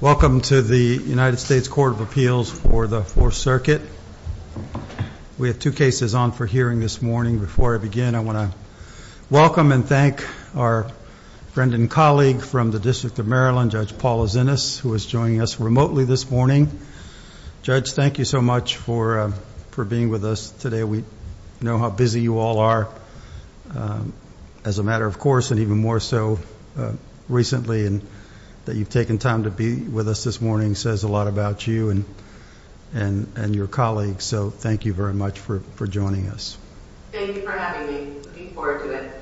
Welcome to the United States Court of Appeals for the Fourth Circuit. We have two cases on for hearing this morning. Before I begin, I want to welcome and thank our friend and colleague from the District of Maryland, Judge Paula Zinnas, who is joining us remotely this morning. Judge, thank you so much for being with us today. We know how busy you all are, as a matter of course, and even more so recently, and that you've taken time to be with us this morning says a lot about you and your colleagues, so thank you very much for joining us. Thank you for having me. I'm looking forward to it.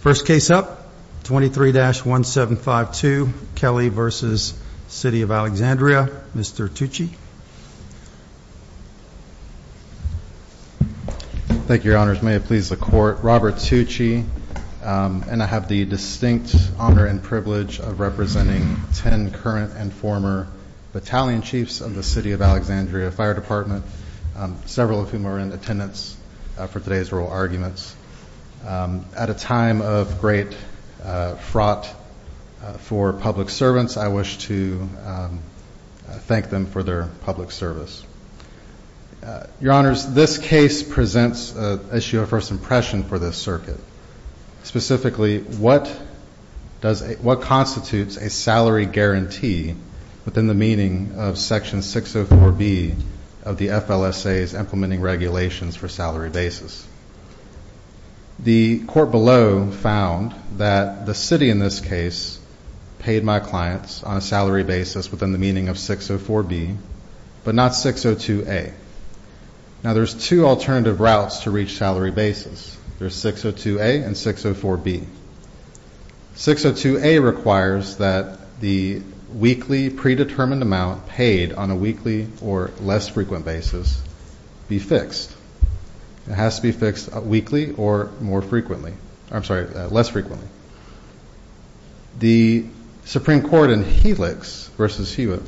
First case up, 23-1752, Kelly v. City of Alexandria. Mr. Tucci. Thank you, Your Honors. May it please the Court. Robert Tucci, and I have the distinct honor and privilege of representing 10 current and former battalion chiefs of the City of Alexandria Fire Department, several of whom are in attendance for today's oral arguments. At a time of great fraught for public servants, I wish to thank them for their public service. Your Honors, this case presents an issue of first impression for this circuit. Specifically, what constitutes a salary guarantee within the meaning of Section 604B of the FLSA's implementing regulations for salary basis? The court below found that the City in this case paid my clients on a weekly, predetermined amount paid on a weekly or less frequent basis be fixed. It has to be fixed weekly or more frequently. I'm sorry, less frequently. The Supreme Court in Helix v. Hewitt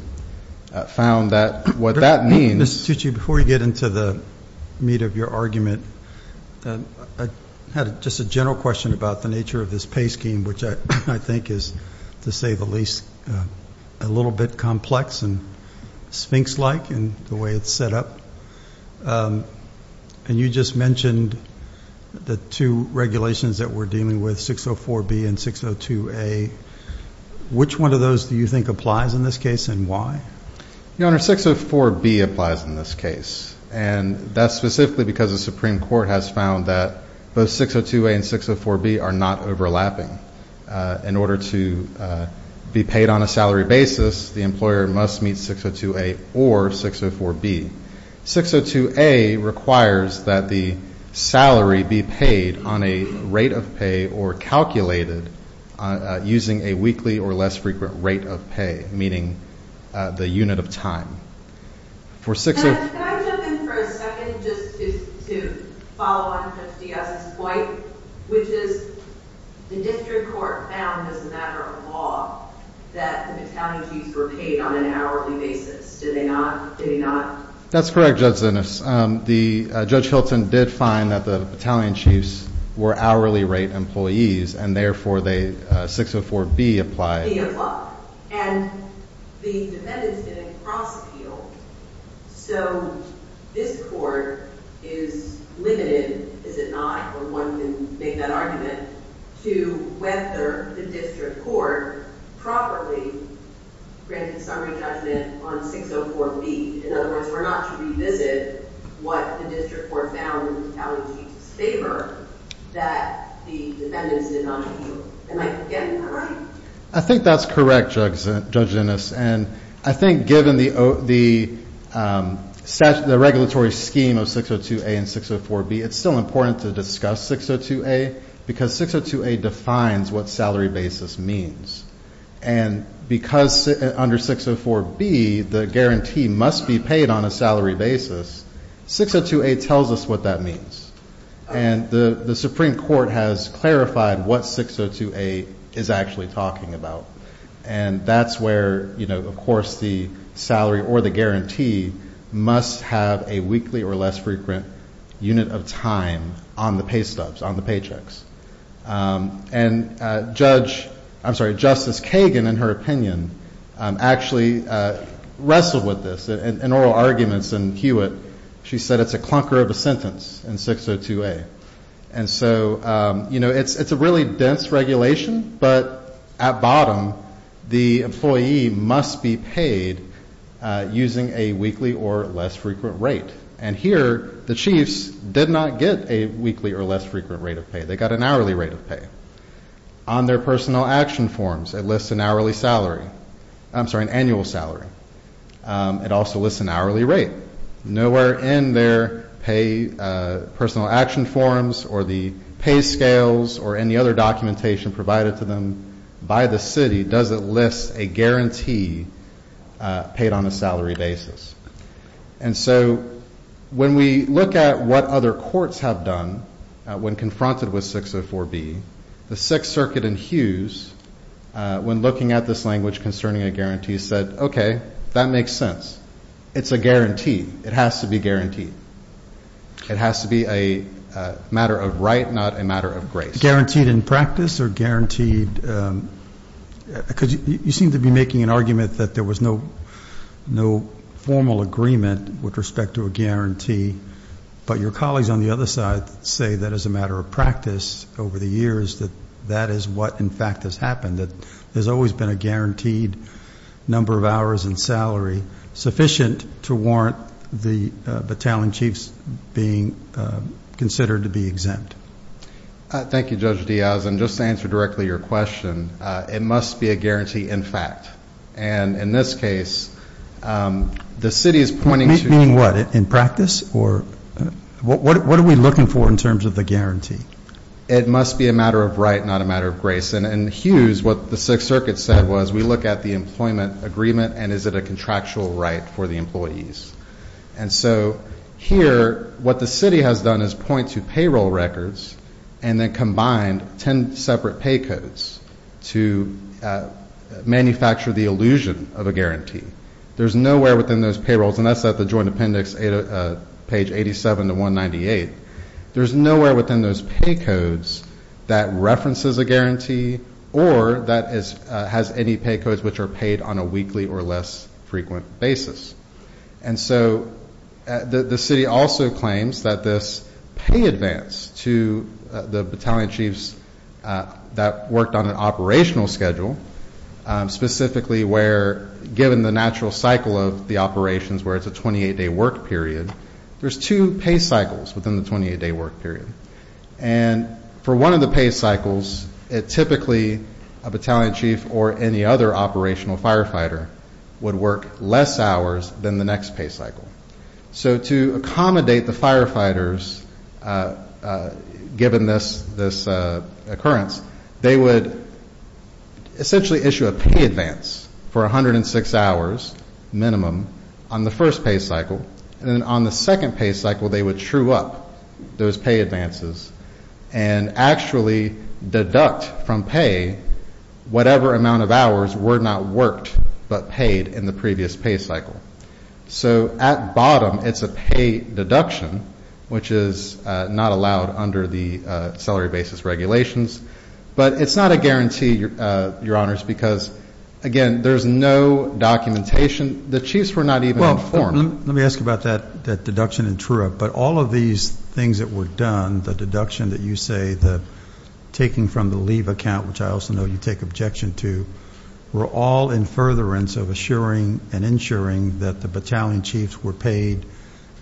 found that what that means... Mr. Tucci, before we get into the meat of your argument, I had just a general question about the nature of this pay scheme, which I think is, to say the least, a little bit complex and sphinx-like in the way it's set up. And you just mentioned the two regulations that we're dealing with, 604B and 602A. Which one of those do you think applies in this case and why? Your Honor, 604B applies in this case. And that's specifically because the Supreme Court has found that both 602A and 604B are not overlapping. In order to be paid on a salary basis, the employer must meet 602A or 604B. 602A requires that the salary be paid on a rate of pay or calculated using a weekly or less frequent rate of pay, meaning that the employer must meet 602A or 604B. Can I jump in for a second just to follow on Judge Diaz's point, which is the district court found as a matter of law that the battalion chiefs were paid on an hourly basis. Did they not? That's correct, Judge Zinnes. Judge Hilton did find that the battalion chiefs were hourly rate employees, and therefore 604B applies. And the defendants didn't cross-appeal. So this Court is limited, is it not, or one can make that argument, to whether the district court properly granted summary judgment on 604B. In other words, we're not to revisit what the district court found in the battalion chiefs' favor that the defendants did not appeal. Am I getting that right? I think that's correct, Judge Zinnes, and I think given the regulatory scheme of 602A and 604B, it's still important to discuss 602A because 602A defines what salary basis means. And because under 604B the guarantee must be paid on a salary basis, 602A tells us what that means. And the Supreme Court has clarified what 602A is actually talking about. And that's where, of course, the salary or the guarantee must have a weekly or less frequent unit of time on the pay stubs, on the paychecks. And Justice Kagan, in her opinion, actually wrestled with this in oral arguments in Hewitt. She said it's a clunker of a sentence in 602A. And so, you know, it's a really dense regulation, but at bottom the employee must be paid using a weekly or less frequent rate. And here the chiefs did not get a weekly or less frequent rate of pay. They got an hourly rate of pay. On their personal action forms, it lists an hourly salary. I'm sorry, an annual salary. It also lists an hourly rate. Nowhere in their pay personal action forms or the pay scales or any other documentation provided to them by the When we look at what other courts have done when confronted with 604B, the Sixth Circuit in Hughes, when looking at this language concerning a guarantee, said, okay, that makes sense. It's a guarantee. It has to be guaranteed. It has to be a matter of right, not a matter of grace. Is it guaranteed in practice or guaranteed? Because you seem to be making an argument that there was no formal agreement with respect to a guarantee, but your colleagues on the other side say that as a matter of practice over the years that that is what, in fact, has happened. That there's always been a guaranteed number of hours and salary sufficient to warrant the battalion chiefs being considered to be exempt. Thank you, Judge Diaz. And just to answer directly your question, it must be a guarantee in fact. And in this case, the city is pointing to meaning what in practice or what are we looking for in terms of the guarantee? It must be a matter of right, not a matter of grace. And in Hughes, what the Sixth Circuit said was we look at the employment agreement and is it a contractual right for the employees? And so here what the city has done is point to payroll records and then combine ten separate pay codes to manufacture the illusion of a guarantee. There's nowhere within those payrolls, and that's at the joint appendix, page 87 to 198. There's nowhere within those pay codes that references a guarantee or that has any pay codes which are paid on a weekly or less frequent basis. And so the city also claims that this pay advance to the battalion chiefs that worked on an operational schedule, specifically where given the natural cycle of the operations where it's a 28-day work period, there's two pay cycles within the 28-day work period. And for one of the pay cycles, it typically, a battalion chief or any other operational firefighter, would work less hours than the next pay cycle. So to accommodate the firefighters, given this occurrence, they would essentially issue a pay advance for 106 hours minimum on the first pay cycle. And then on the second pay cycle, they would true up those pay advances and actually deduct from pay whatever amount of hours were not worked but paid in the previous pay cycle. So at bottom, it's a pay deduction, which is not allowed under the salary basis regulations. But it's not a guarantee, Your Honors, because, again, there's no documentation. The chiefs were not even informed. Let me ask about that deduction and true up. But all of these things that were done, the deduction that you say, the taking from the leave account, which I also know you take objection to, were all in furtherance of assuring and ensuring that the battalion chiefs were paid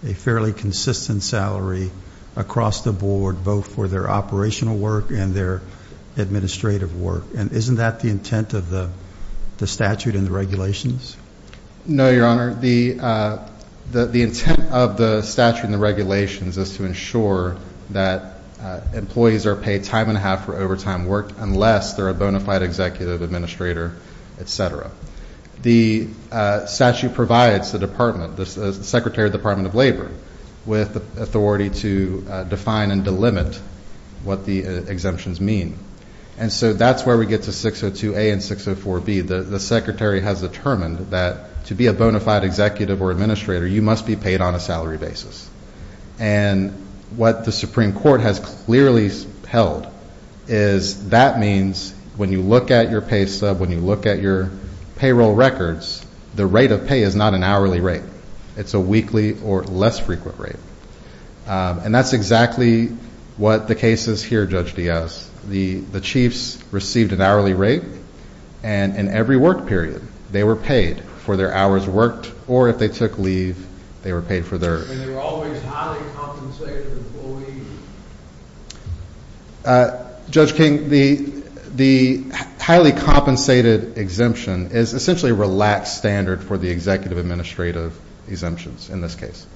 a fairly consistent salary across the board, both for their operational work and their administrative work. And isn't that the intent of the statute and the regulations? No, Your Honor. The intent of the statute and the regulations is to ensure that employees are paid time and a half for overtime work, unless they're a bona fide executive administrator, et cetera. The statute provides the department, the Secretary of the Department of Labor, with authority to define and delimit what the exemptions mean. And so that's where we get to 602A and 604B. The Secretary has determined that to be a bona fide executive or administrator, you must be paid on a salary basis. And what the Supreme Court has clearly held is that means when you look at your pay sub, when you look at your payroll records, the rate of pay is not an hourly rate. It's a weekly or less frequent rate. And that's exactly what the case is here, Judge Diaz. The chiefs received an hourly rate. And in every work period, they were paid for their hours worked or if they took leave, they were paid for theirs. And they were always highly compensated employees. Judge King, the highly compensated exemption is essentially a relaxed standard for the executive administrative exemptions in this case.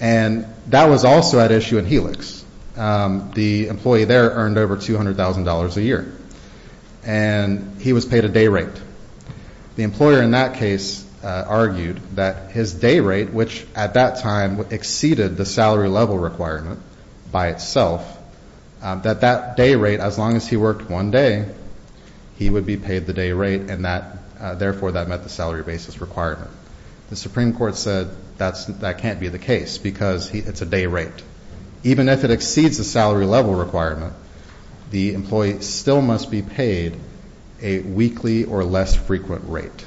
And that was also at issue in Helix. The employee there earned over $200,000 a year. And he was paid a day rate. The employer in that case argued that his day rate, which at that time exceeded the salary level requirement by itself, that that day rate, as long as he worked one day, he would be paid the day rate and therefore that met the salary basis requirement. The Supreme Court said that can't be the case because it's a day rate. Even if it exceeds the salary level requirement, the employee still must be paid a weekly or less frequent rate,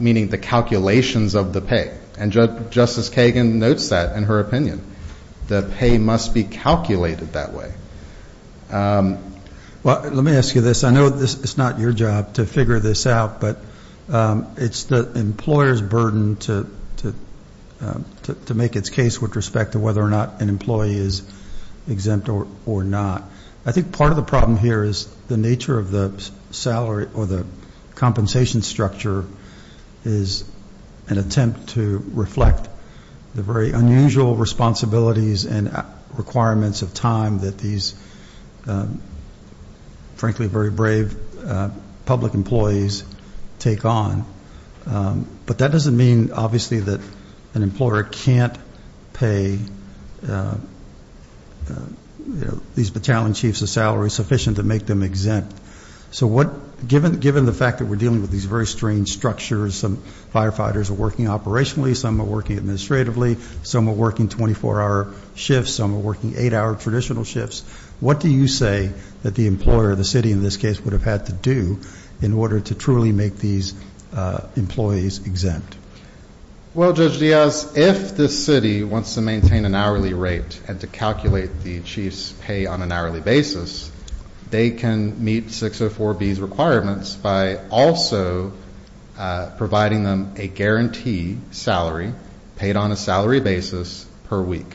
meaning the calculations of the pay. And Justice Kagan notes that in her opinion. The pay must be calculated that way. Well, let me ask you this. I know it's not your job to figure this out. But it's the employer's burden to make its case with respect to whether or not an employee is exempt or not. I think part of the problem here is the nature of the salary or the compensation structure is an attempt to reflect the very unusual responsibilities and requirements of time that these, frankly, very brave public employees take on. But that doesn't mean, obviously, that an employer can't pay these battalion chiefs a salary sufficient to make them exempt. So given the fact that we're dealing with these very strange structures, some firefighters are working operationally, some are working administratively, some are working 24-hour shifts, some are working eight-hour traditional shifts. What do you say that the employer, the city in this case, would have had to do in order to truly make these employees exempt? Well, Judge Diaz, if the city wants to maintain an hourly rate and to calculate the chief's pay on an hourly basis, they can meet 604B's requirements by also providing them a guarantee salary paid on a salary basis per week.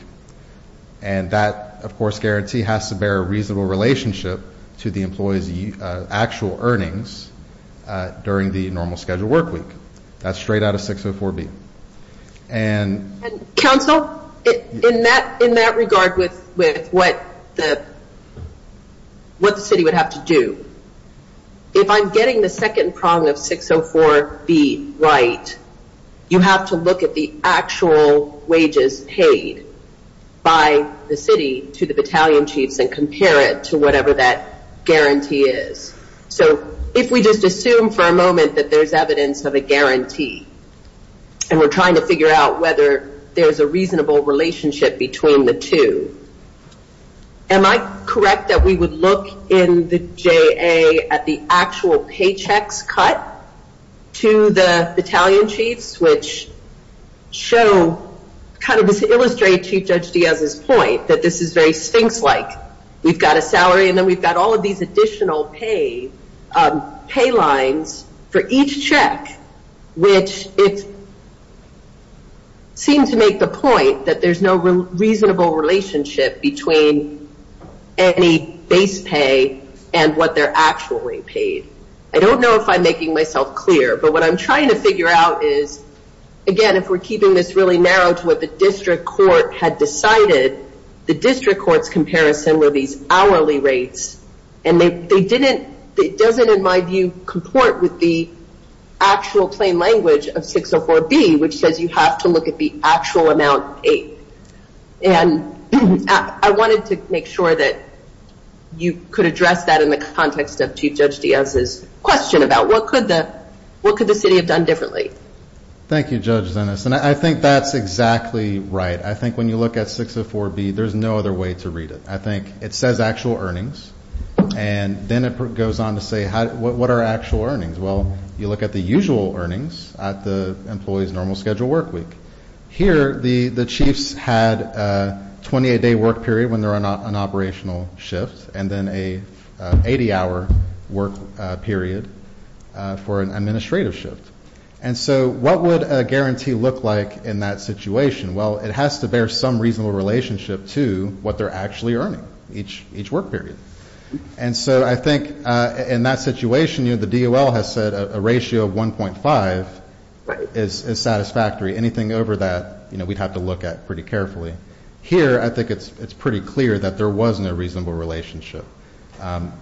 And that, of course, guarantee has to bear a reasonable relationship to the employee's actual earnings during the normal scheduled work week. That's straight out of 604B. And... Counsel, in that regard with what the city would have to do, if I'm getting the second prong of 604B right, you have to look at the actual wages paid by the city to the battalion chiefs and compare it to whatever that guarantee is. So if we just assume for a moment that there's evidence of a guarantee and we're trying to figure out whether there's a reasonable relationship between the two, am I correct that we would look in the JA at the actual paychecks cut to the battalion chiefs, which show, kind of illustrate Chief Judge Diaz's point that this is very sphinx-like. We've got a salary and then we've got all of these additional pay lines for each check, which it seems to make the point that there's no reasonable relationship between any base pay and what they're actually paid. I don't know if I'm making myself clear, but what I'm trying to figure out is, again, if we're keeping this really the district court's comparison were these hourly rates and it doesn't, in my view, comport with the actual plain language of 604B, which says you have to look at the actual amount paid. And I wanted to make sure that you could address that in the context of Chief Judge Diaz's question about what could the city have done differently. Thank you, Judge Zenas. And I think that's exactly right. I think when you look at 604B, there's no other way to read it. I think it says actual earnings, and then it goes on to say what are actual earnings. Well, you look at the usual earnings at the employee's normal schedule work week. Here, the chiefs had a 28-day work period when they're on an operational shift, and then a 80-hour work period for an administrative shift. And so what would a guarantee look like in that situation? Well, it has to bear some reasonable relationship to what they're actually earning each work period. And so I think in that situation, you know, the DOL has said a ratio of 1.5 is satisfactory. Anything over that, you know, we'd have to look at pretty carefully. Here, I think it's pretty clear that there was no reasonable relationship.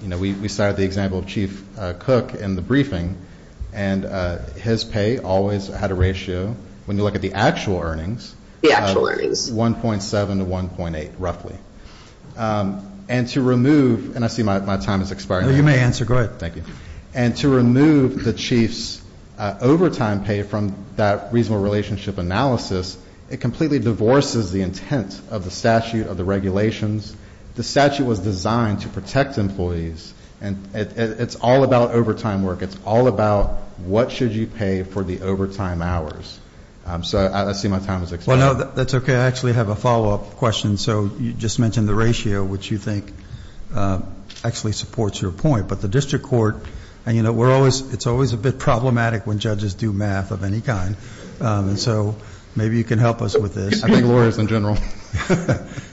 You know, we cited the example of Chief Cook in the briefing, and his pay always had a ratio, when you look at the actual earnings, 1.7 to 1.8, roughly. And to remove, and I see my time is expiring. You may answer. Go ahead. Thank you. And to remove the chief's overtime pay from that reasonable relationship analysis, it completely divorces the intent of the statute, of the regulations. The statute was designed to protect employees, and it's all about overtime work. It's all about what should you pay for the overtime hours. So I see my time is expiring. Well, no, that's okay. I actually have a follow-up question. So you just mentioned the ratio, which you think actually supports your point. But the district court, and you know, we're always, it's always a bit problematic when judges do math of any kind. And so maybe you can help us with this. I think lawyers in general.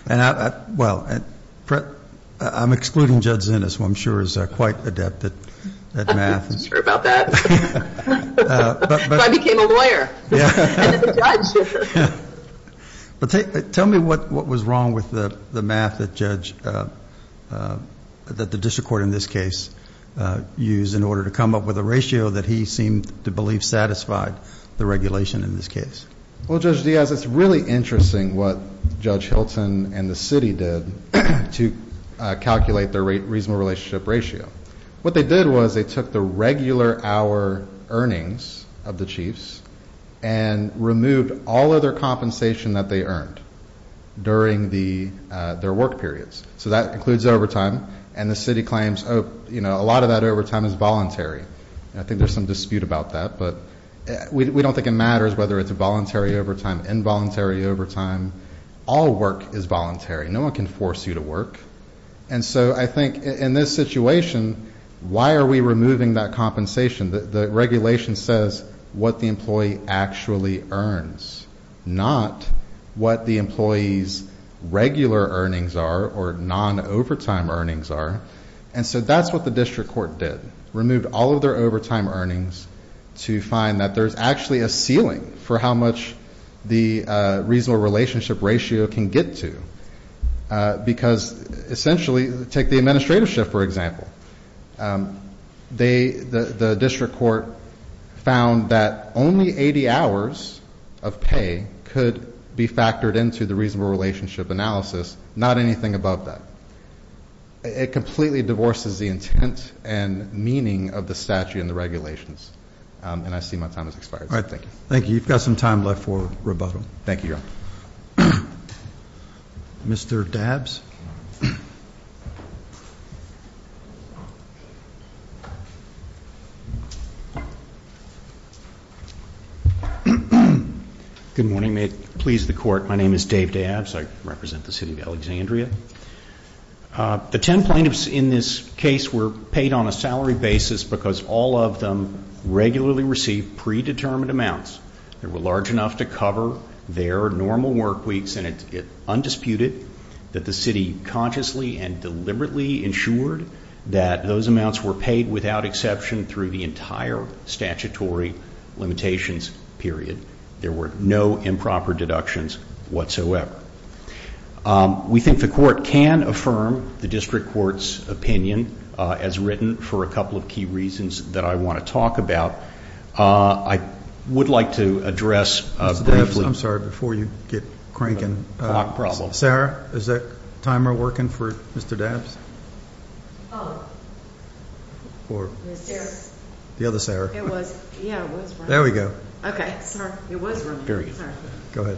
And I, well, I'm excluding Judge Zinnis, who I'm sure is quite adept at math. I'm not sure about that. I became a lawyer, and a judge. But tell me what was wrong with the math that judge, that the district court in this case used in order to come up with a ratio that he seemed to believe satisfied the regulation in this case. Well, Judge Diaz, it's really interesting what Judge Hilton and the city did to calculate the reasonable relationship ratio. What they did was they took the regular hour earnings of the chiefs and removed all other compensation that they earned during their work periods. So that includes overtime. And the city claims, you know, a lot of that overtime is voluntary. I think there's some dispute about that. But we know that in this case, whether it's voluntary overtime, involuntary overtime, all work is voluntary. No one can force you to work. And so I think in this situation, why are we removing that compensation? The regulation says what the employee actually earns, not what the employee's regular earnings are, or non-overtime earnings are. And so that's what the district court did. Removed all of their overtime. And so that's how much the reasonable relationship ratio can get to. Because essentially, take the administrative shift, for example. The district court found that only 80 hours of pay could be factored into the reasonable relationship analysis, not anything above that. It completely divorces the intent and meaning of the statute and the regulations. And I see my time has expired, so thank you. Thank you. You've got some time left for rebuttal. Thank you. Mr. Dabbs. Good morning. May it please the court, my name is Dave Dabbs. I represent the city of Alexandria. The ten plaintiffs in this case were paid on a salary basis because all of them regularly received predetermined amounts that were large enough to cover their normal work weeks. And it's undisputed that the city consciously and deliberately ensured that those amounts were paid without exception through the entire statutory limitations period. There were no improper deductions whatsoever. We think the court can affirm the district court's opinion, as written, for a couple of key reasons that I want to talk about. I would like to address briefly. Mr. Dabbs, I'm sorry, before you get cranking. A clock problem. Sarah, is that timer working for Mr. Dabbs? The other Sarah. There we go. Okay. Sorry. It was running. Go ahead.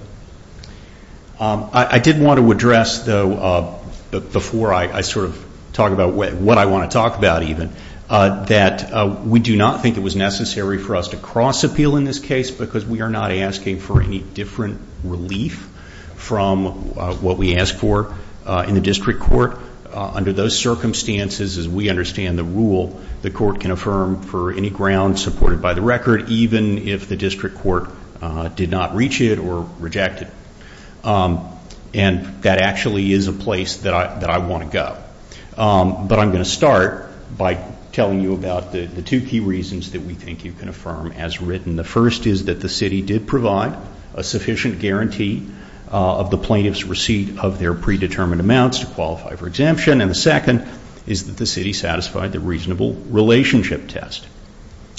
I did want to address, though, before I sort of talk about what I want to talk about, even, that we do not think it was necessary for us to cross-appeal in this case because we are not asking for any different relief from what we asked for in the district court. Under those circumstances, as we understand the rule, the court can affirm for any grounds supported by the record, even if the district court did not reach it or reject it. And that actually is a good idea. But I'm going to start by telling you about the two key reasons that we think you can affirm, as written. The first is that the city did provide a sufficient guarantee of the plaintiff's receipt of their predetermined amounts to qualify for exemption. And the second is that the city satisfied the reasonable relationship test.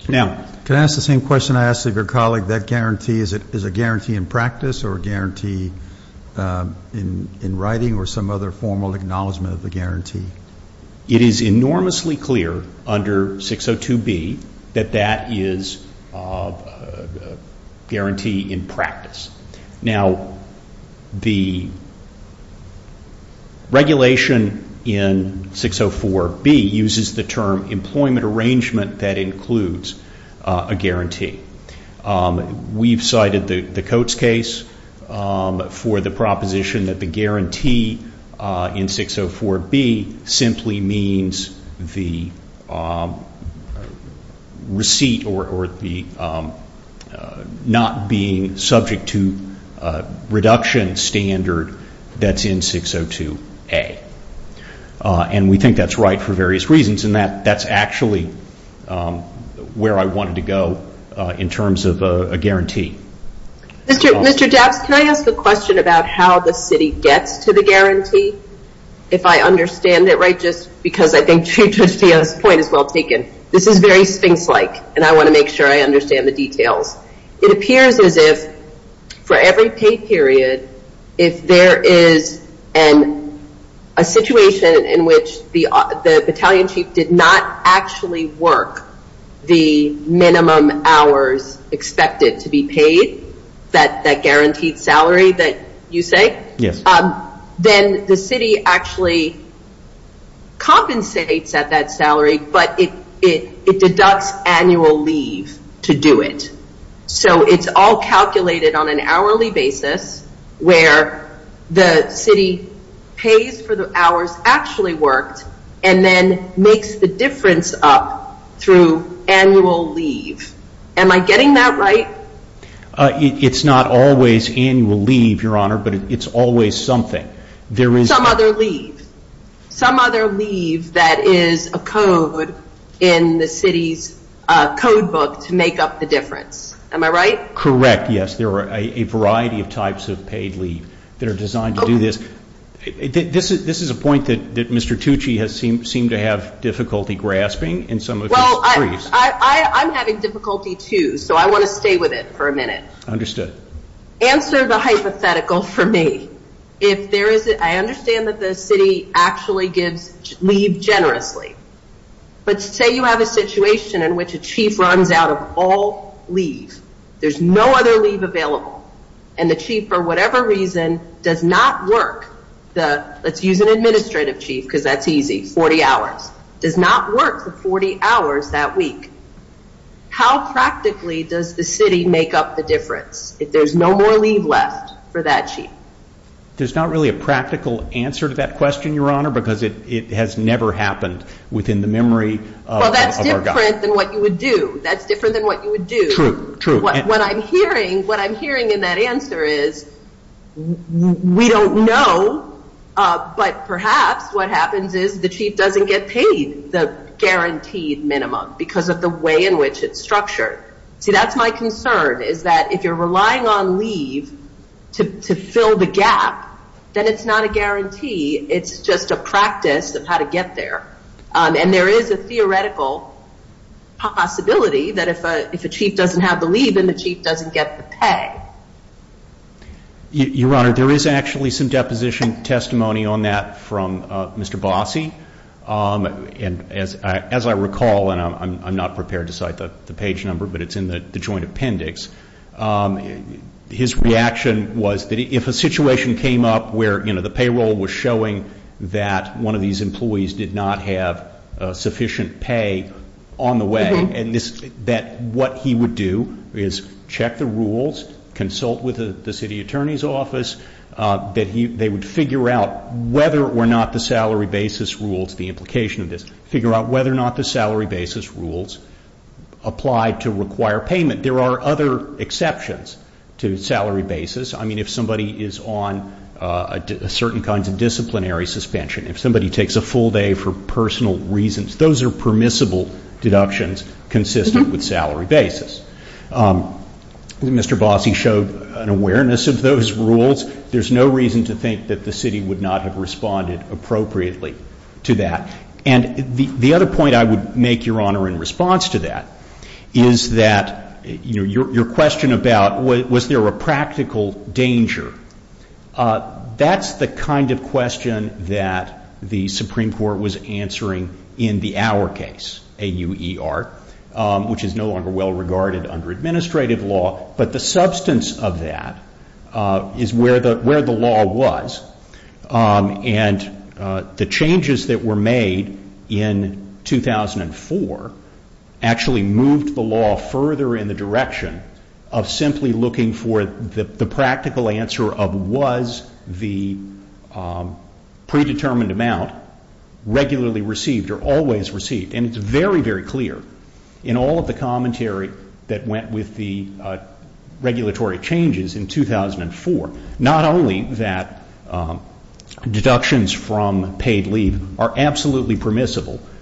Now, can I ask the same question I asked of your colleague? That guarantee, is it a formal acknowledgement of the guarantee? It is enormously clear under 602B that that is a guarantee in practice. Now, the regulation in 604B uses the term employment arrangement that includes a guarantee. We've cited the Coates case for the proposition that the guarantee in 604B simply means the receipt or the not being subject to reduction standard that's in 602A. And we think that's right for various reasons. And that's actually where I wanted to go in terms of a guarantee. Mr. Dabbs, can I ask a question about how the city gets to the minimum hours expected to be paid? If I understand it right, just because I think Chief Justino's point is well taken, this is very sphinx-like, and I want to make sure I understand the details. It appears as if for every pay period, if there is a situation in which the battalion chief did not actually work the minimum hours expected to be paid, that guaranteed salary that you say, then the city is actually compensates at that salary, but it deducts annual leave to do it. So it's all calculated on an hourly basis where the city pays for the hours actually worked and then makes the difference up through annual leave. Am I getting that right? It's not always annual leave, Your Honor, but it's always something. Some other leave. Some other leave that is a code in the city's code book to make up the difference. Am I right? Correct, yes. There are a variety of types of paid leave that are designed to do this. This is a point that Mr. Tucci seemed to have difficulty grasping in some of his briefs. Well, I'm having difficulty too, so I want to stay with it for a minute. Understood. Answer the hypothetical for me. I understand that the city actually gives leave generously, but say you have a situation in which a chief runs out of all leave. There's no other leave available, and the chief, for whatever reason, does not work the, let's use an administrative chief because that's easy, 40 hours, does not work the 40 hours that week. How practically does the city make up the difference if there's no more leave left for that chief? There's not really a practical answer to that question, Your Honor, because it has never happened within the memory of our government. That's different than what you would do. True. What I'm hearing in that answer is, we don't know, but perhaps what happens is the chief doesn't get paid the guaranteed minimum because of the way in which it's done. And if you're relying on leave to fill the gap, then it's not a guarantee. It's just a practice of how to get there. And there is a theoretical possibility that if a chief doesn't have the leave, then the chief doesn't get the pay. Your Honor, there is actually some deposition testimony on that from Mr. Bossie. And as I recall, and I'm not prepared to cite the page number, but it's in the joint appendix, his reaction was that if a situation came up where, you know, the payroll was showing that one of these employees did not have sufficient pay on the way, that what he would do is check the rules, consult with the city attorney's office, that they would figure out whether or not the salary basis rules, the implication of this, figure out whether or not the salary basis rules applied to require payment. There are other exceptions to salary basis. I mean, if somebody is on a certain kinds of disciplinary suspension, if somebody takes a full day for personal reasons, those are permissible deductions consistent with salary basis. Mr. Bossie showed an awareness of those rules. There's no reason to think that the city would not have responded appropriately to that. And the other point I would make, Your Honor, in response to that, is that, you know, your question about was there a practical danger, that's the kind of question that the Supreme Court was answering in the Auer case, A-U-E-R, which is no longer well regarded under administrative law. But the substance of that is where the law was. And the changes that were made in 2004 actually moved the law further in the direction of simply looking for the practical answer of was the predetermined amount regularly received or always received. And it's very, very clear in all of the commentary that went with the regulatory changes in 2004 that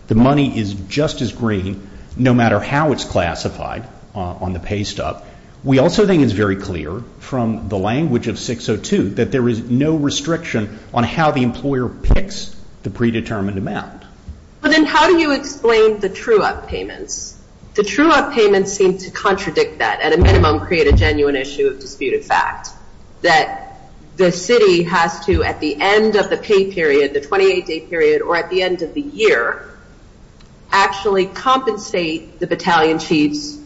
the money is just as green, no matter how it's classified on the pay stub. We also think it's very clear from the language of 602 that there is no restriction on how the employer picks the predetermined amount. But then how do you explain the true-up payments? The true-up payments seem to contradict that, at a minimum, create a genuine issue of disputed fact, that the city has to, at the end of the pay period, the 28-day period, or at the beginning of the 28-day period, or at the end of the year, actually compensate the battalion chiefs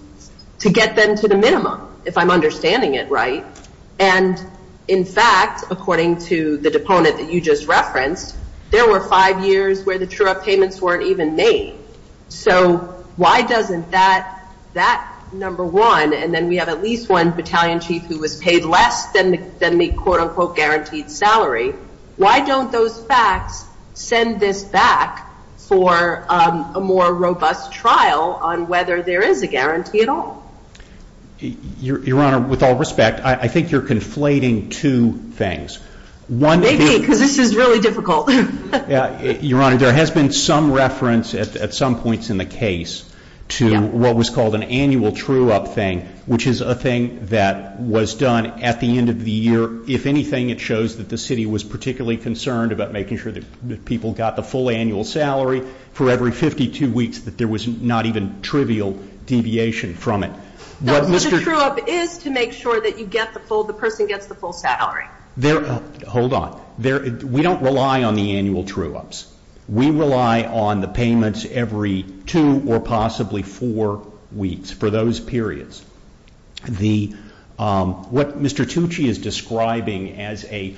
to get them to the minimum, if I'm understanding it right. And, in fact, according to the deponent that you just referenced, there were five years where the true-up payments weren't even made. So why doesn't that number one, and then we have at least one battalion chief who was paid less than the quote-unquote guaranteed salary, why don't those facts send this back for a more robust trial on whether there is a guarantee at all? Your Honor, with all respect, I think you're conflating two things. Maybe, because this is really difficult. Your Honor, there has been some reference at some points in the case to what was called an annual true-up thing, which is a thing that was done at the end of the year. If anything, it shows that the city was particularly concerned about making sure that people got the full annual salary for every 52 weeks, that there was not even trivial deviation from it. No, but the true-up is to make sure that you get the full, the person gets the full salary. Hold on. We don't rely on the annual true-ups. We rely on the payments every two or possibly four weeks for those periods. What Mr. Hickman said,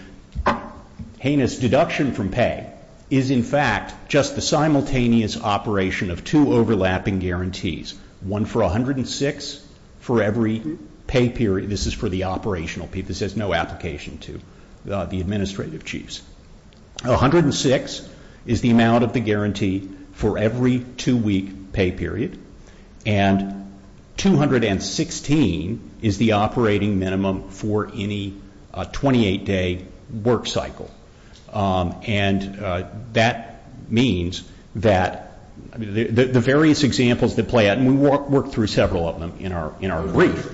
in fact, just the simultaneous operation of two overlapping guarantees, one for 106 for every pay period, this is for the operational people, this has no application to the administrative chiefs. 106 is the amount of the guarantee for every two-week pay period, and 216 is the operating minimum for any 28-day work cycle, and that means that the various examples that play out, and we work through several of them in our briefs.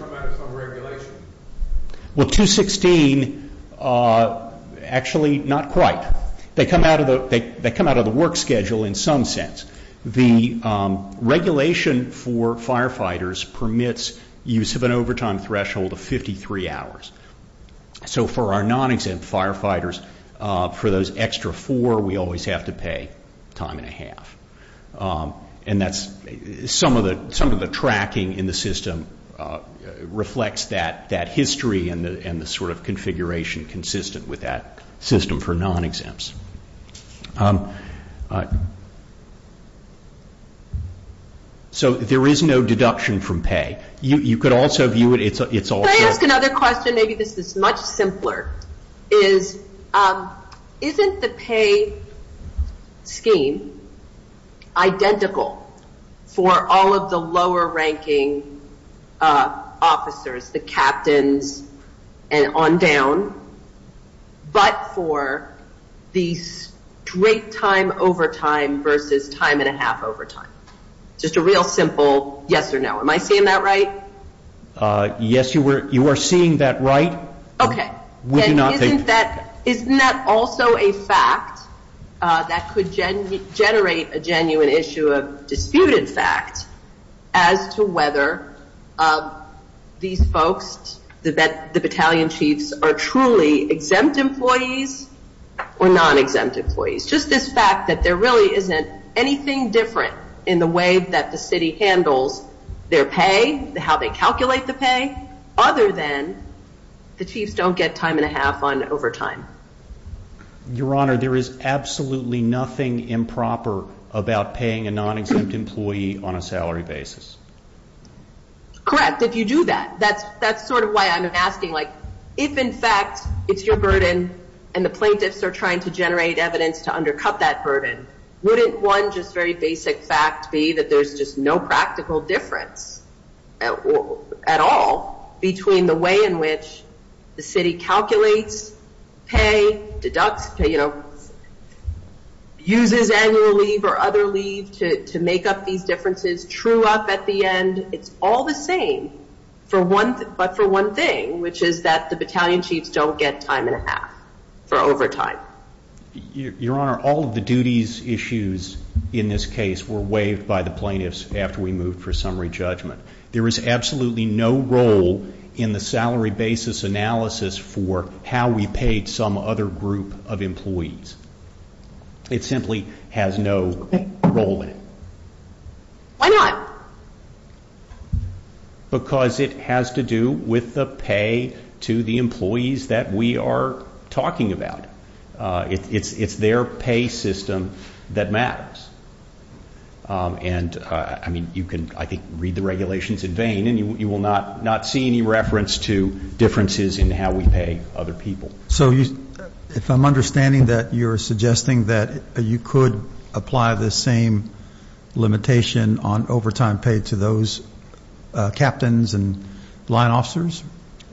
Well, 216, actually not quite. They come out of the work schedule in some sense. The regulation for firefighters permits use of an overtime threshold of 53 hours. So for our non-exempt firefighters, for those extra four, we always have to pay time and a half. Some of the tracking in the system reflects that history and the sort of configuration consistent with that system for non-exempts. So there is no deduction from pay. Can I ask another question? Maybe this is much simpler. Isn't the pay scheme identical for all of the lower-ranking officers, the captains and on down, but for the straight time overtime versus time and a half overtime? Just a real simple yes or no. Am I saying that right? Yes, you are seeing that right. Okay. And isn't that also a fact that could generate a genuine issue of disputed fact as to whether these folks, the battalion chiefs, are truly exempt employees or non-exempt employees? It's just this fact that there really isn't anything different in the way that the city handles their pay, how they calculate the pay, other than the chiefs don't get time and a half on overtime. Your Honor, there is absolutely nothing improper about paying a non-exempt employee on a salary basis. Correct, if you do that. That's sort of why I'm asking. If, in fact, it's your burden and the plaintiffs are trying to generate evidence to undercut that burden, wouldn't one just very basic fact be that there's just no practical difference at all between the way in which the city calculates pay, deducts pay, uses annual leave or other leave to make up these differences, true up at the end? It's all the same, but for one thing, which is that the battalion chiefs don't get time and a half for overtime. Your Honor, all of the duties issues in this case were waived by the plaintiffs after we moved for summary judgment. There is absolutely no role in the salary basis analysis for how we paid some other group of employees. It simply has no role in it. Why not? Because it has to do with the pay to the employees that we are talking about. It's their pay system that matters. And, I mean, you can, I think, read the regulations in vain and you will not see any reference to differences in how we pay other people. So if I'm understanding that you're suggesting that you could apply the same limitation on overtime pay to those captains and line officers?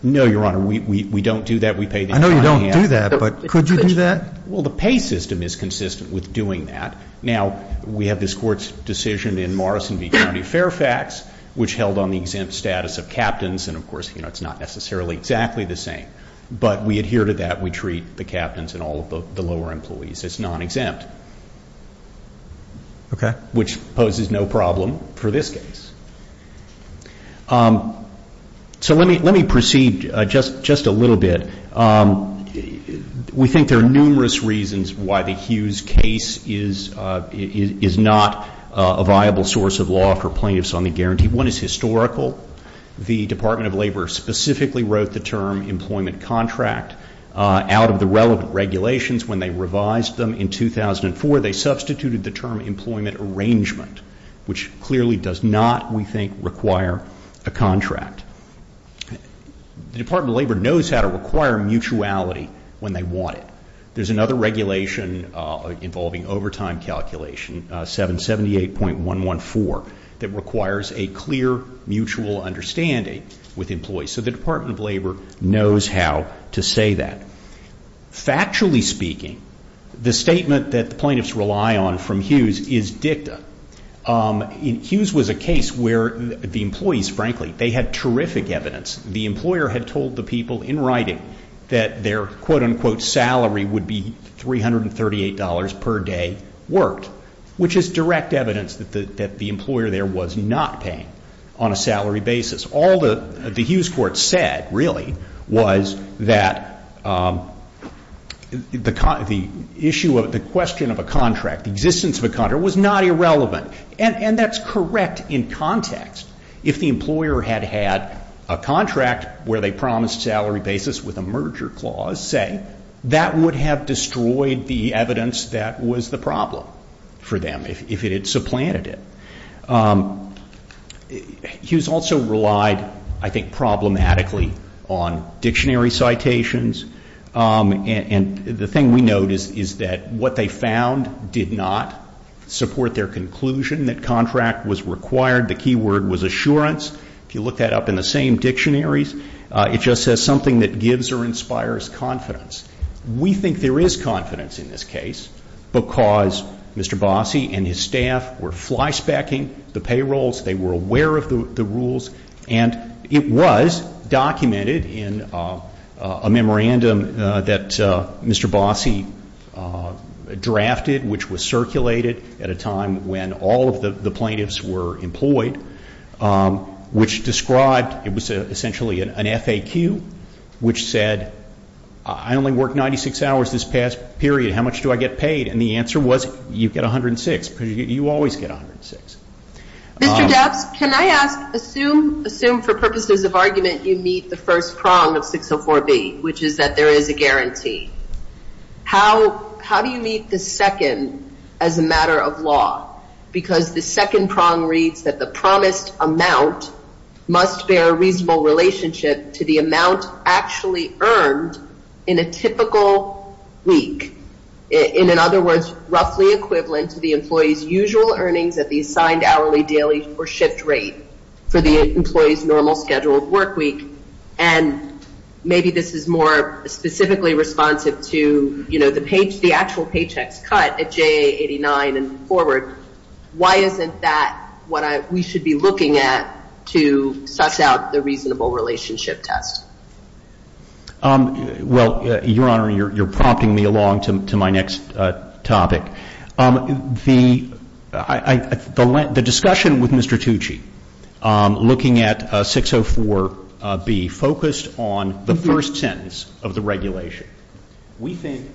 No, Your Honor. We don't do that. We pay them time and a half. But could you do that? Well, the pay system is consistent with doing that. Now, we have this Court's decision in Morrison v. County Fairfax, which held on the exempt status of captains, and, of course, you know, it's not necessarily exactly the same. But we adhere to that. We treat the captains and all of the lower employees as non-exempt. Okay. Which poses no problem for this case. So let me proceed just a little bit. We think there are numerous reasons why the Hughes case is not a viable source of law for plaintiffs on the guarantee. One is historical. The Department of Labor specifically wrote the term employment contract. Out of the relevant regulations, when they revised them in 2004, they substituted the term employment arrangement, which clearly does not, we think, require a contract. The Department of Labor knows how to require mutuality when they want it. There's another regulation involving overtime calculation, 778.114, that requires a clear mutual understanding with employees. So the Department of Labor knows how to say that. Factually speaking, the statement that the plaintiffs rely on from Hughes is dicta. Hughes was a case where the employees, frankly, they had terrific evidence. The employer had told the people in writing that their quote-unquote salary would be $338 per day worked, which is direct evidence that the employer there was not paying on a salary basis. All the Hughes court said, really, was that the issue of the question of a contract, the existence of a contract, was not irrelevant. And that's correct in context. If the employer had had a contract where they promised salary basis with a merger clause, say, that would have destroyed the evidence that was the problem for them, if it had supplanted it. Hughes also relied, I think, problematically on dictionary citations. And the thing we note is that what they found did not support their conclusion that contract was required. The key word was assurance. If you look that up in the same dictionaries, it just says something that gives or inspires confidence. We think there is confidence in this case because Mr. Bossie and his staff were flyspecking the payrolls. They were aware of the rules. And it was documented in a memorandum that Mr. Bossie drafted, which was circulated at a time when all of the plaintiffs were employed, which described it was essentially an FAQ, which said, I only work 96 hours this past period. How much do I get paid? And the answer was, you get 106, because you always get 106. Perhaps, can I ask, assume for purposes of argument you meet the first prong of 604B, which is that there is a guarantee. How do you meet the second as a matter of law? Because the second prong reads that the promised amount must bear a reasonable relationship to the amount actually earned in a typical week. In other words, roughly equivalent to the employee's usual earnings at the assigned hourly, daily, or shift rate for the employee's normal scheduled work week. And maybe this is more specifically responsive to the actual paychecks cut at JA89 and forward. Why isn't that what we should be looking at to suss out the reasonable relationship test? Well, Your Honor, you're prompting me along to my next topic. The discussion with Mr. Tucci looking at 604B focused on the first sentence of the regulation. We think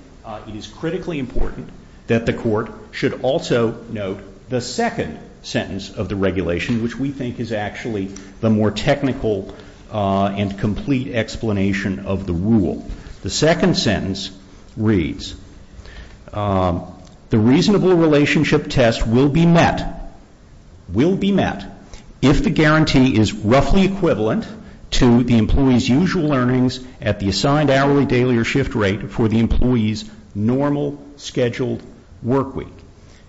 it is critically important that the Court should also note the second sentence of the regulation, which we think is actually the more technical and complete explanation of the rule. The second sentence reads, the reasonable relationship test will be met, will be met if the guarantee is roughly equivalent to the employee's usual earnings at the assigned hourly, daily, or shift rate for the employee's normal scheduled work week.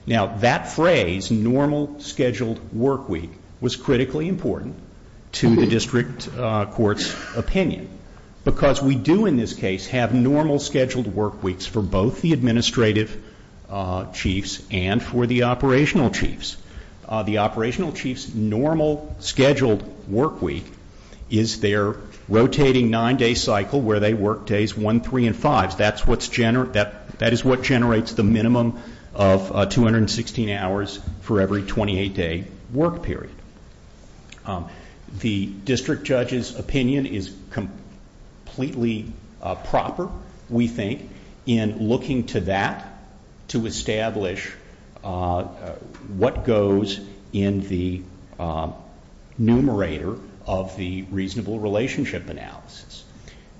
Now, that phrase, normal scheduled work week, was critically important to the District Court's opinion, because we do in this case have normal scheduled work weeks for both the administrative chiefs and for the operational chiefs. The operational chief's normal scheduled work week is their rotating nine-day cycle, where they work days one, three, and five. That is what generates the minimum of 216 hours for every 28-day work period. The District Judge's opinion is completely proper, we think, in looking to that to establish what goes in the numerator of the reasonable relationship analysis.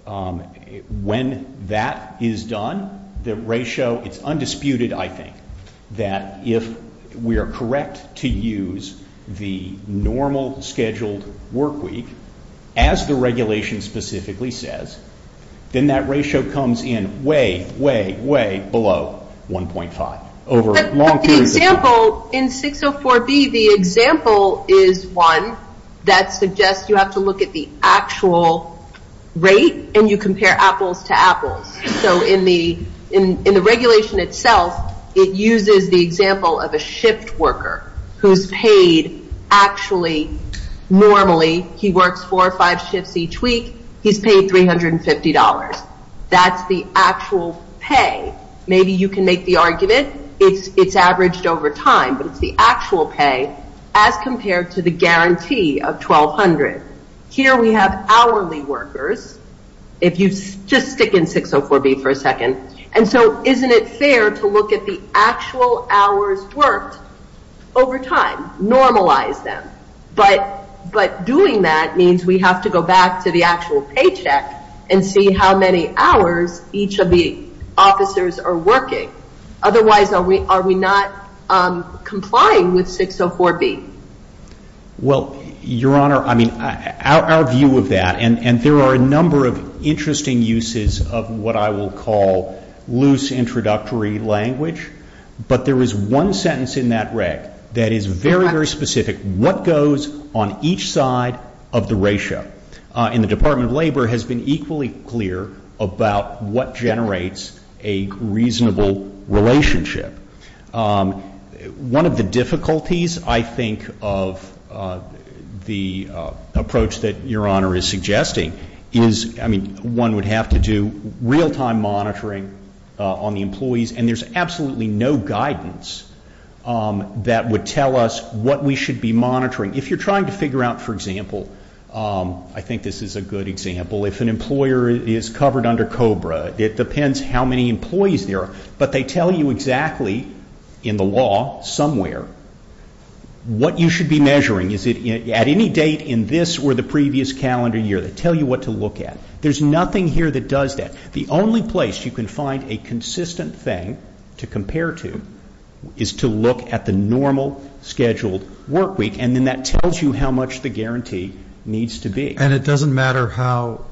When that is done, the ratio, it's undisputed, I think, that if we are correct to use the normal scheduled work week, as the regulation specifically says, then that ratio comes in way, way, way below 1.5. But the example in 604B, the example is one that suggests you have to look at the actual rate and you compare apples to apples. In the regulation itself, it uses the example of a shift worker who is paid, actually, normally, he works four or five shifts each week, he's paid $350. That's the actual pay. Maybe you can make the argument it's averaged over time, but it's the actual pay as compared to the guarantee of $1,200. Here we have hourly workers. If you just stick in 604B for a second. Isn't it fair to look at the actual hours worked over time, normalize them? But doing that means we have to go back to the actual paycheck and see how many hours each of the officers are working. Otherwise, are we not complying with 604B? Well, Your Honor, our view of that, and there are a number of interesting uses of what I will call loose introductory language, but there is one sentence in that reg that is very, very specific. What goes on each side of the ratio? And the Department of Labor has been equally clear about what generates a reasonable relationship. One of the difficulties, I think, of the approach that Your Honor is suggesting is, I mean, one would have to do real-time monitoring on the employees, and there's absolutely no guidance that would tell us what we should be monitoring. If you're trying to figure out, for example, I think this is a good example, if an employer is covered under COBRA, it depends how many employees there are, but they tell you exactly in the law somewhere what you should be measuring. Is it at any date in this or the previous calendar year? They tell you what to look at. There's nothing here that does that. The only place you can find a consistent thing to compare to is to look at the normal scheduled work week, and then that tells you how much the guarantee needs to be. And it doesn't matter how,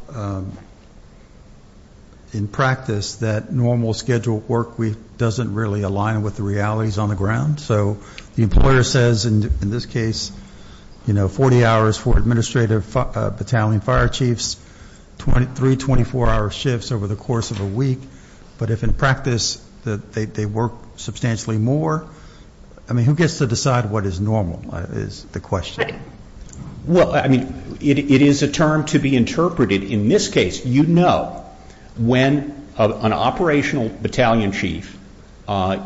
in practice, that normal scheduled work week doesn't really align with the realities on the ground. So the employer says, in this case, you know, three 24-hour shifts over the course of a week, but if in practice they work substantially more, I mean, who gets to decide what is normal, is the question. Well, I mean, it is a term to be interpreted. In this case, you know when an operational battalion chief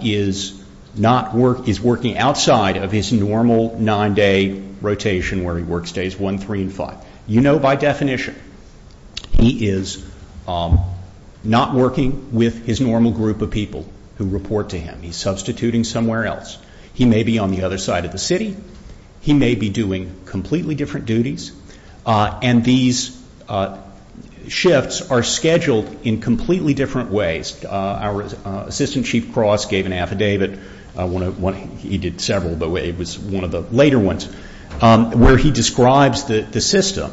is working outside of his normal nine-day rotation where he works days one, three, and five. You know by definition he is not working with his normal group of people who report to him. He's substituting somewhere else. He may be on the other side of the city. He may be doing completely different duties, and these shifts are scheduled in completely different ways. Our Assistant Chief Cross gave an affidavit, he did several, but it was one of the later ones, where he describes the system.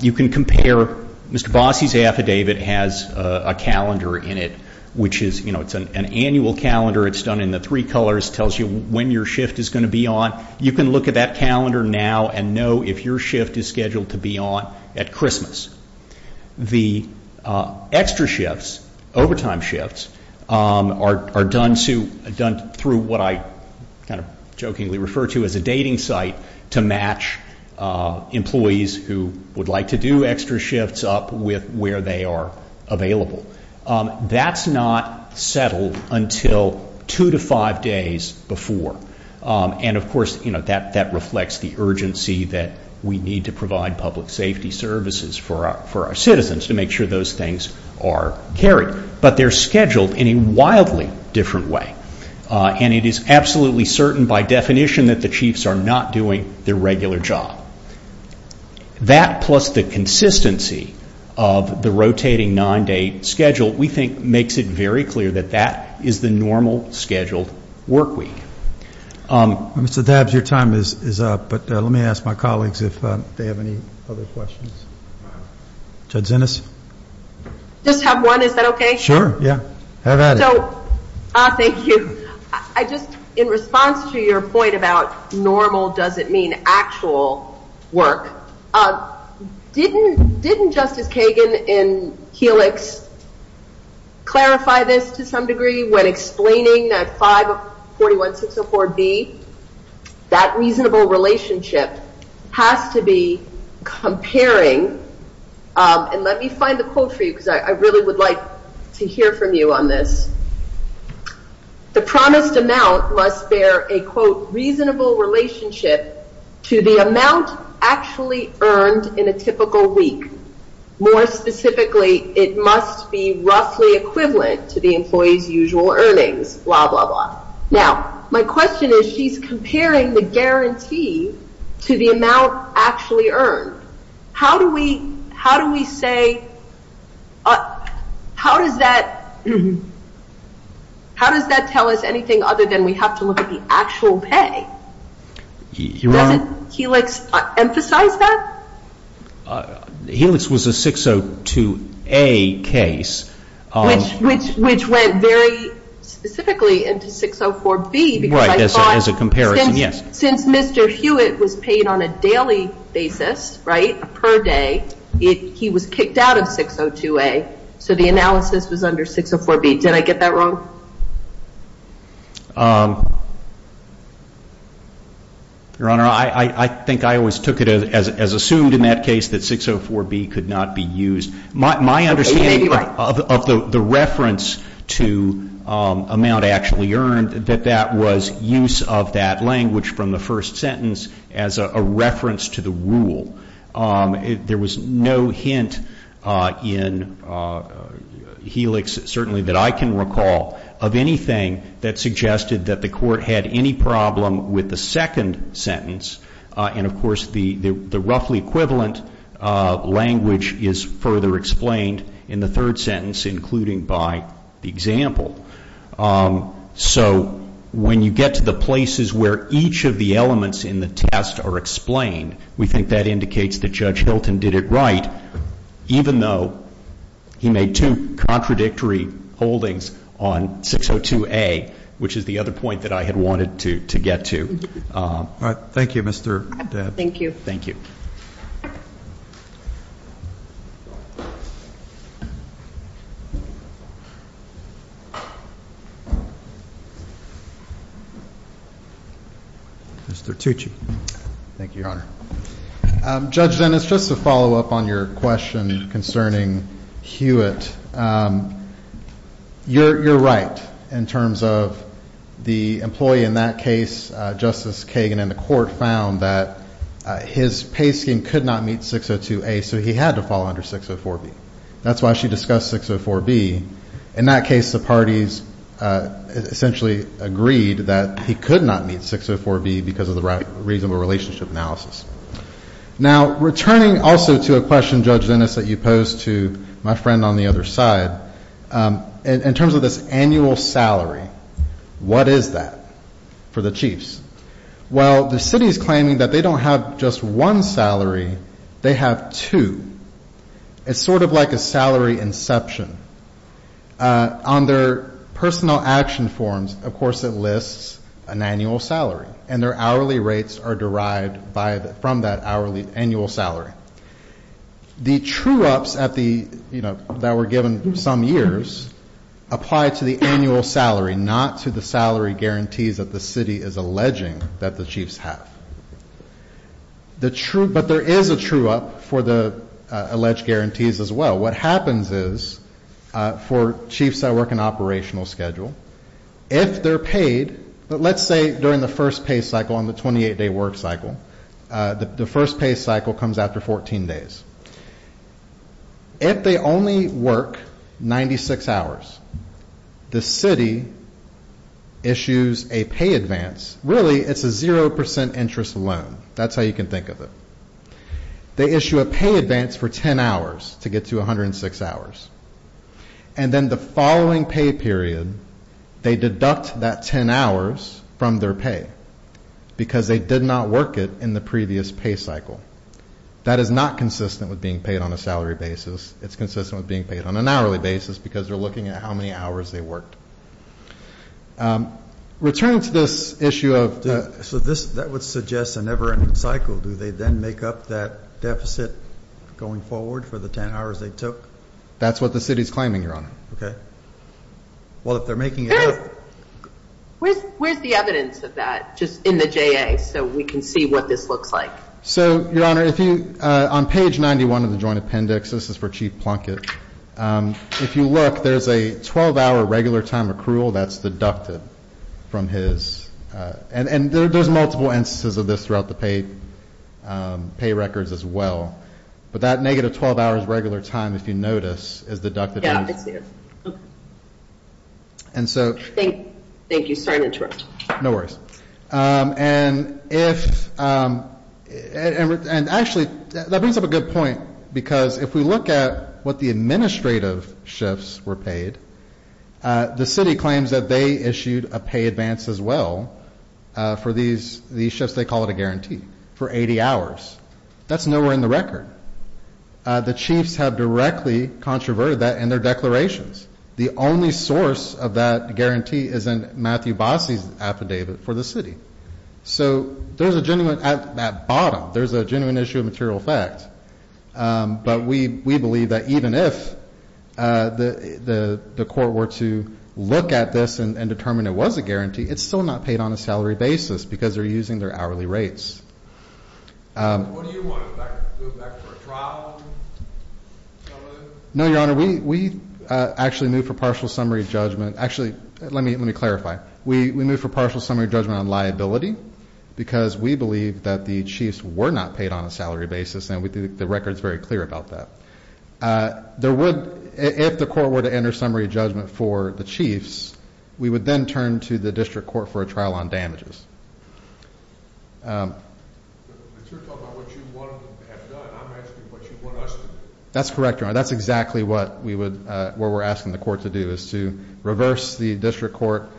You can compare Mr. Bossie's affidavit has a calendar in it, which is, you know, it's an annual calendar. It's done in the three colors. It tells you when your shift is going to be on. You can look at that calendar now and know if your shift is scheduled to be on at Christmas. The extra shifts, overtime shifts, are done through what I kind of jokingly refer to as a dating cycle. It's a dating site to match employees who would like to do extra shifts up with where they are available. That's not settled until two to five days before, and of course, you know, that reflects the urgency that we need to provide public safety services for our citizens to make sure those things are carried. But they're scheduled in a wildly different way, and it is absolutely certain by definition that the chiefs are not doing their regular job. That plus the consistency of the rotating nine-day schedule, we think, makes it very clear that that is the normal scheduled work week. Mr. Dabbs, your time is up, but let me ask my colleagues if they have any other questions. Judge Ennis? Just have one, is that okay? Sure, yeah. Have at it. So, thank you. I just, in response to your point about normal doesn't mean actual work, didn't Justice Kagan in Helix clarify this to some degree when explaining that 541-604-B? That reasonable relationship has to be comparing, and let me find the quote for you because I really would like to hear from you on this. The promised amount must bear a quote reasonable relationship to the amount actually earned in a typical week. More specifically, it must be roughly equivalent to the employee's usual earnings, blah, blah, blah. Now, my question is, she's comparing the guarantee to the amount actually earned. How do we say, how does that tell us anything other than we have to look at the actual pay? Does Helix emphasize that? Helix was a 602-A case. Which went very specifically into 604-B. Right, as a comparison, yes. Since Mr. Hewitt was paid on a daily basis, right, per day, he was kicked out of 602-A, so the analysis was under 604-B. Did I get that wrong? Your Honor, I think I always took it as assumed in that case that 604-B could not be used. My understanding of the reference to amount actually earned, that that was use of that language from the first sentence as a reference to the rule. There was no hint in Helix, certainly that I can recall, of anything that suggested that the court had any problem with the second sentence. And of course, the roughly equivalent language is further explained in the third sentence, including by the example. So when you get to the places where each of the elements in the test are explained, we think that indicates that Judge Hilton did it right, even though he made two contradictory holdings on 602-A, which is the other point that I had wanted to get to. Thank you, Mr. Dabb. Thank you. Mr. Tucci. Thank you, Your Honor. Judge Dennis, just to follow up on your question concerning Hewitt, you're right in terms of the employee in that case, Justice Kagan, and the court found that his pay scheme could not meet 602-A, so he had to fall under 604-B. That's why she discussed 604-B. In that case, the parties essentially agreed that he could not meet 604-B because of the reasonable relationship analysis. Now, returning also to a question, Judge Dennis, that you posed to my friend on the other side, in terms of this annual salary, what is that for the chiefs? Well, the city is claiming that they don't have just one salary, they have two. It's sort of like a salary inception. On their personal action forms, of course, it lists an annual salary, and their hourly rates are derived from that hourly annual salary. The true ups that were given some years apply to the annual salary, not to the salary guarantees that the city is alleging that the chiefs have. But there is a true up for the alleged guarantees as well. What happens is, for chiefs that work an operational schedule, if they're paid, let's say during the first pay cycle on the 28-day work cycle, the first pay cycle comes after 14 days. If they only work 96 hours, the city issues a pay advance. Really, it's a zero percent interest loan. That's how you can think of it. They issue a pay advance for ten hours to get to 106 hours, and then the following pay period, they deduct that ten hours from their pay because they did not work it in the previous pay cycle. That is not consistent with being paid on a salary basis. It's consistent with being paid on an hourly basis because they're looking at how many hours they worked. Returning to this issue of... That would suggest a never-ending cycle. Do they then make up that deficit going forward for the ten hours they took? That's what the city's claiming, Your Honor. Where's the evidence of that, just in the JA, so we can see what this looks like? On page 91 of the Joint Appendix, this is for Chief Plunkett. If you look, there's a 12-hour regular time accrual that's deducted from his... And there's multiple instances of this throughout the pay records as well, but that negative 12 hours regular time, if you notice, is deducted from his... Thank you. Sorry to interrupt. Actually, that brings up a good point because if we look at what the administrative shifts were paid, the city claims that they issued a pay advance as well for these shifts. They call it a guarantee for 80 hours. That's nowhere in the record. The chiefs have directly controverted that in their declarations. The only source of that guarantee is in Matthew Bossie's affidavit for the city. So there's a genuine...at the bottom, there's a genuine issue of material facts. But we believe that even if the court were to look at this and determine it was a guarantee, it's still not paid on a salary basis because they're using their hourly rates. What do you want? Go back for a trial? No, Your Honor. We actually move for partial summary judgment. Actually, let me clarify. We move for partial summary judgment on liability because we believe that the chiefs were not paid on a salary basis, and the record's very clear about that. If the court were to enter summary judgment for the chiefs, we would then turn to the district court for a trial on damages. But you're talking about what you want them to have done. I'm asking what you want us to do. That's correct, Your Honor. That's exactly what we're asking the court to do, is to reverse the district court,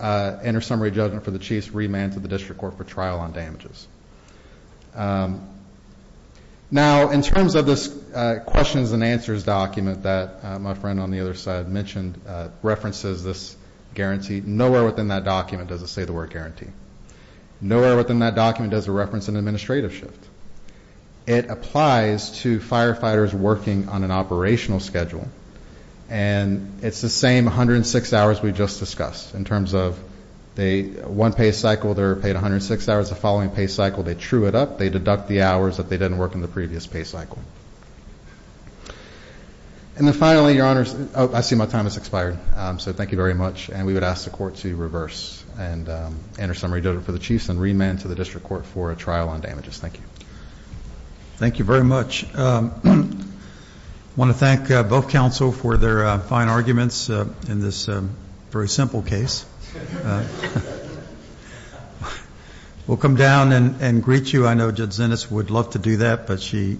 enter summary judgment for the chiefs, and remand to the district court for trial on damages. Now, in terms of this questions and answers document that my friend on the other side mentioned references this guarantee, nowhere within that document does it say the word guarantee. Nowhere within that document does it reference an administrative shift. It applies to firefighters working on an operational schedule, and it's the same 106 hours we just discussed in terms of one pay cycle they're paid 106 hours, the following pay cycle they true it up, they deduct the hours that they didn't work in the previous pay cycle. And then finally, Your Honors, I see my time has expired, so thank you very much, and we would ask the court to reverse and enter summary judgment for the chiefs and remand to the district court for a trial on damages. Thank you. Thank you very much. I want to thank both counsel for their fine arguments in this very simple case. We'll come down and greet you. I know Judge Zenes would love to do that, but she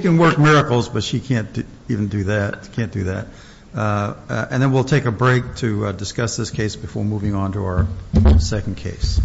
can work miracles, but she can't even do that, can't do that. And then we'll take a break to discuss this case before moving on to our second case.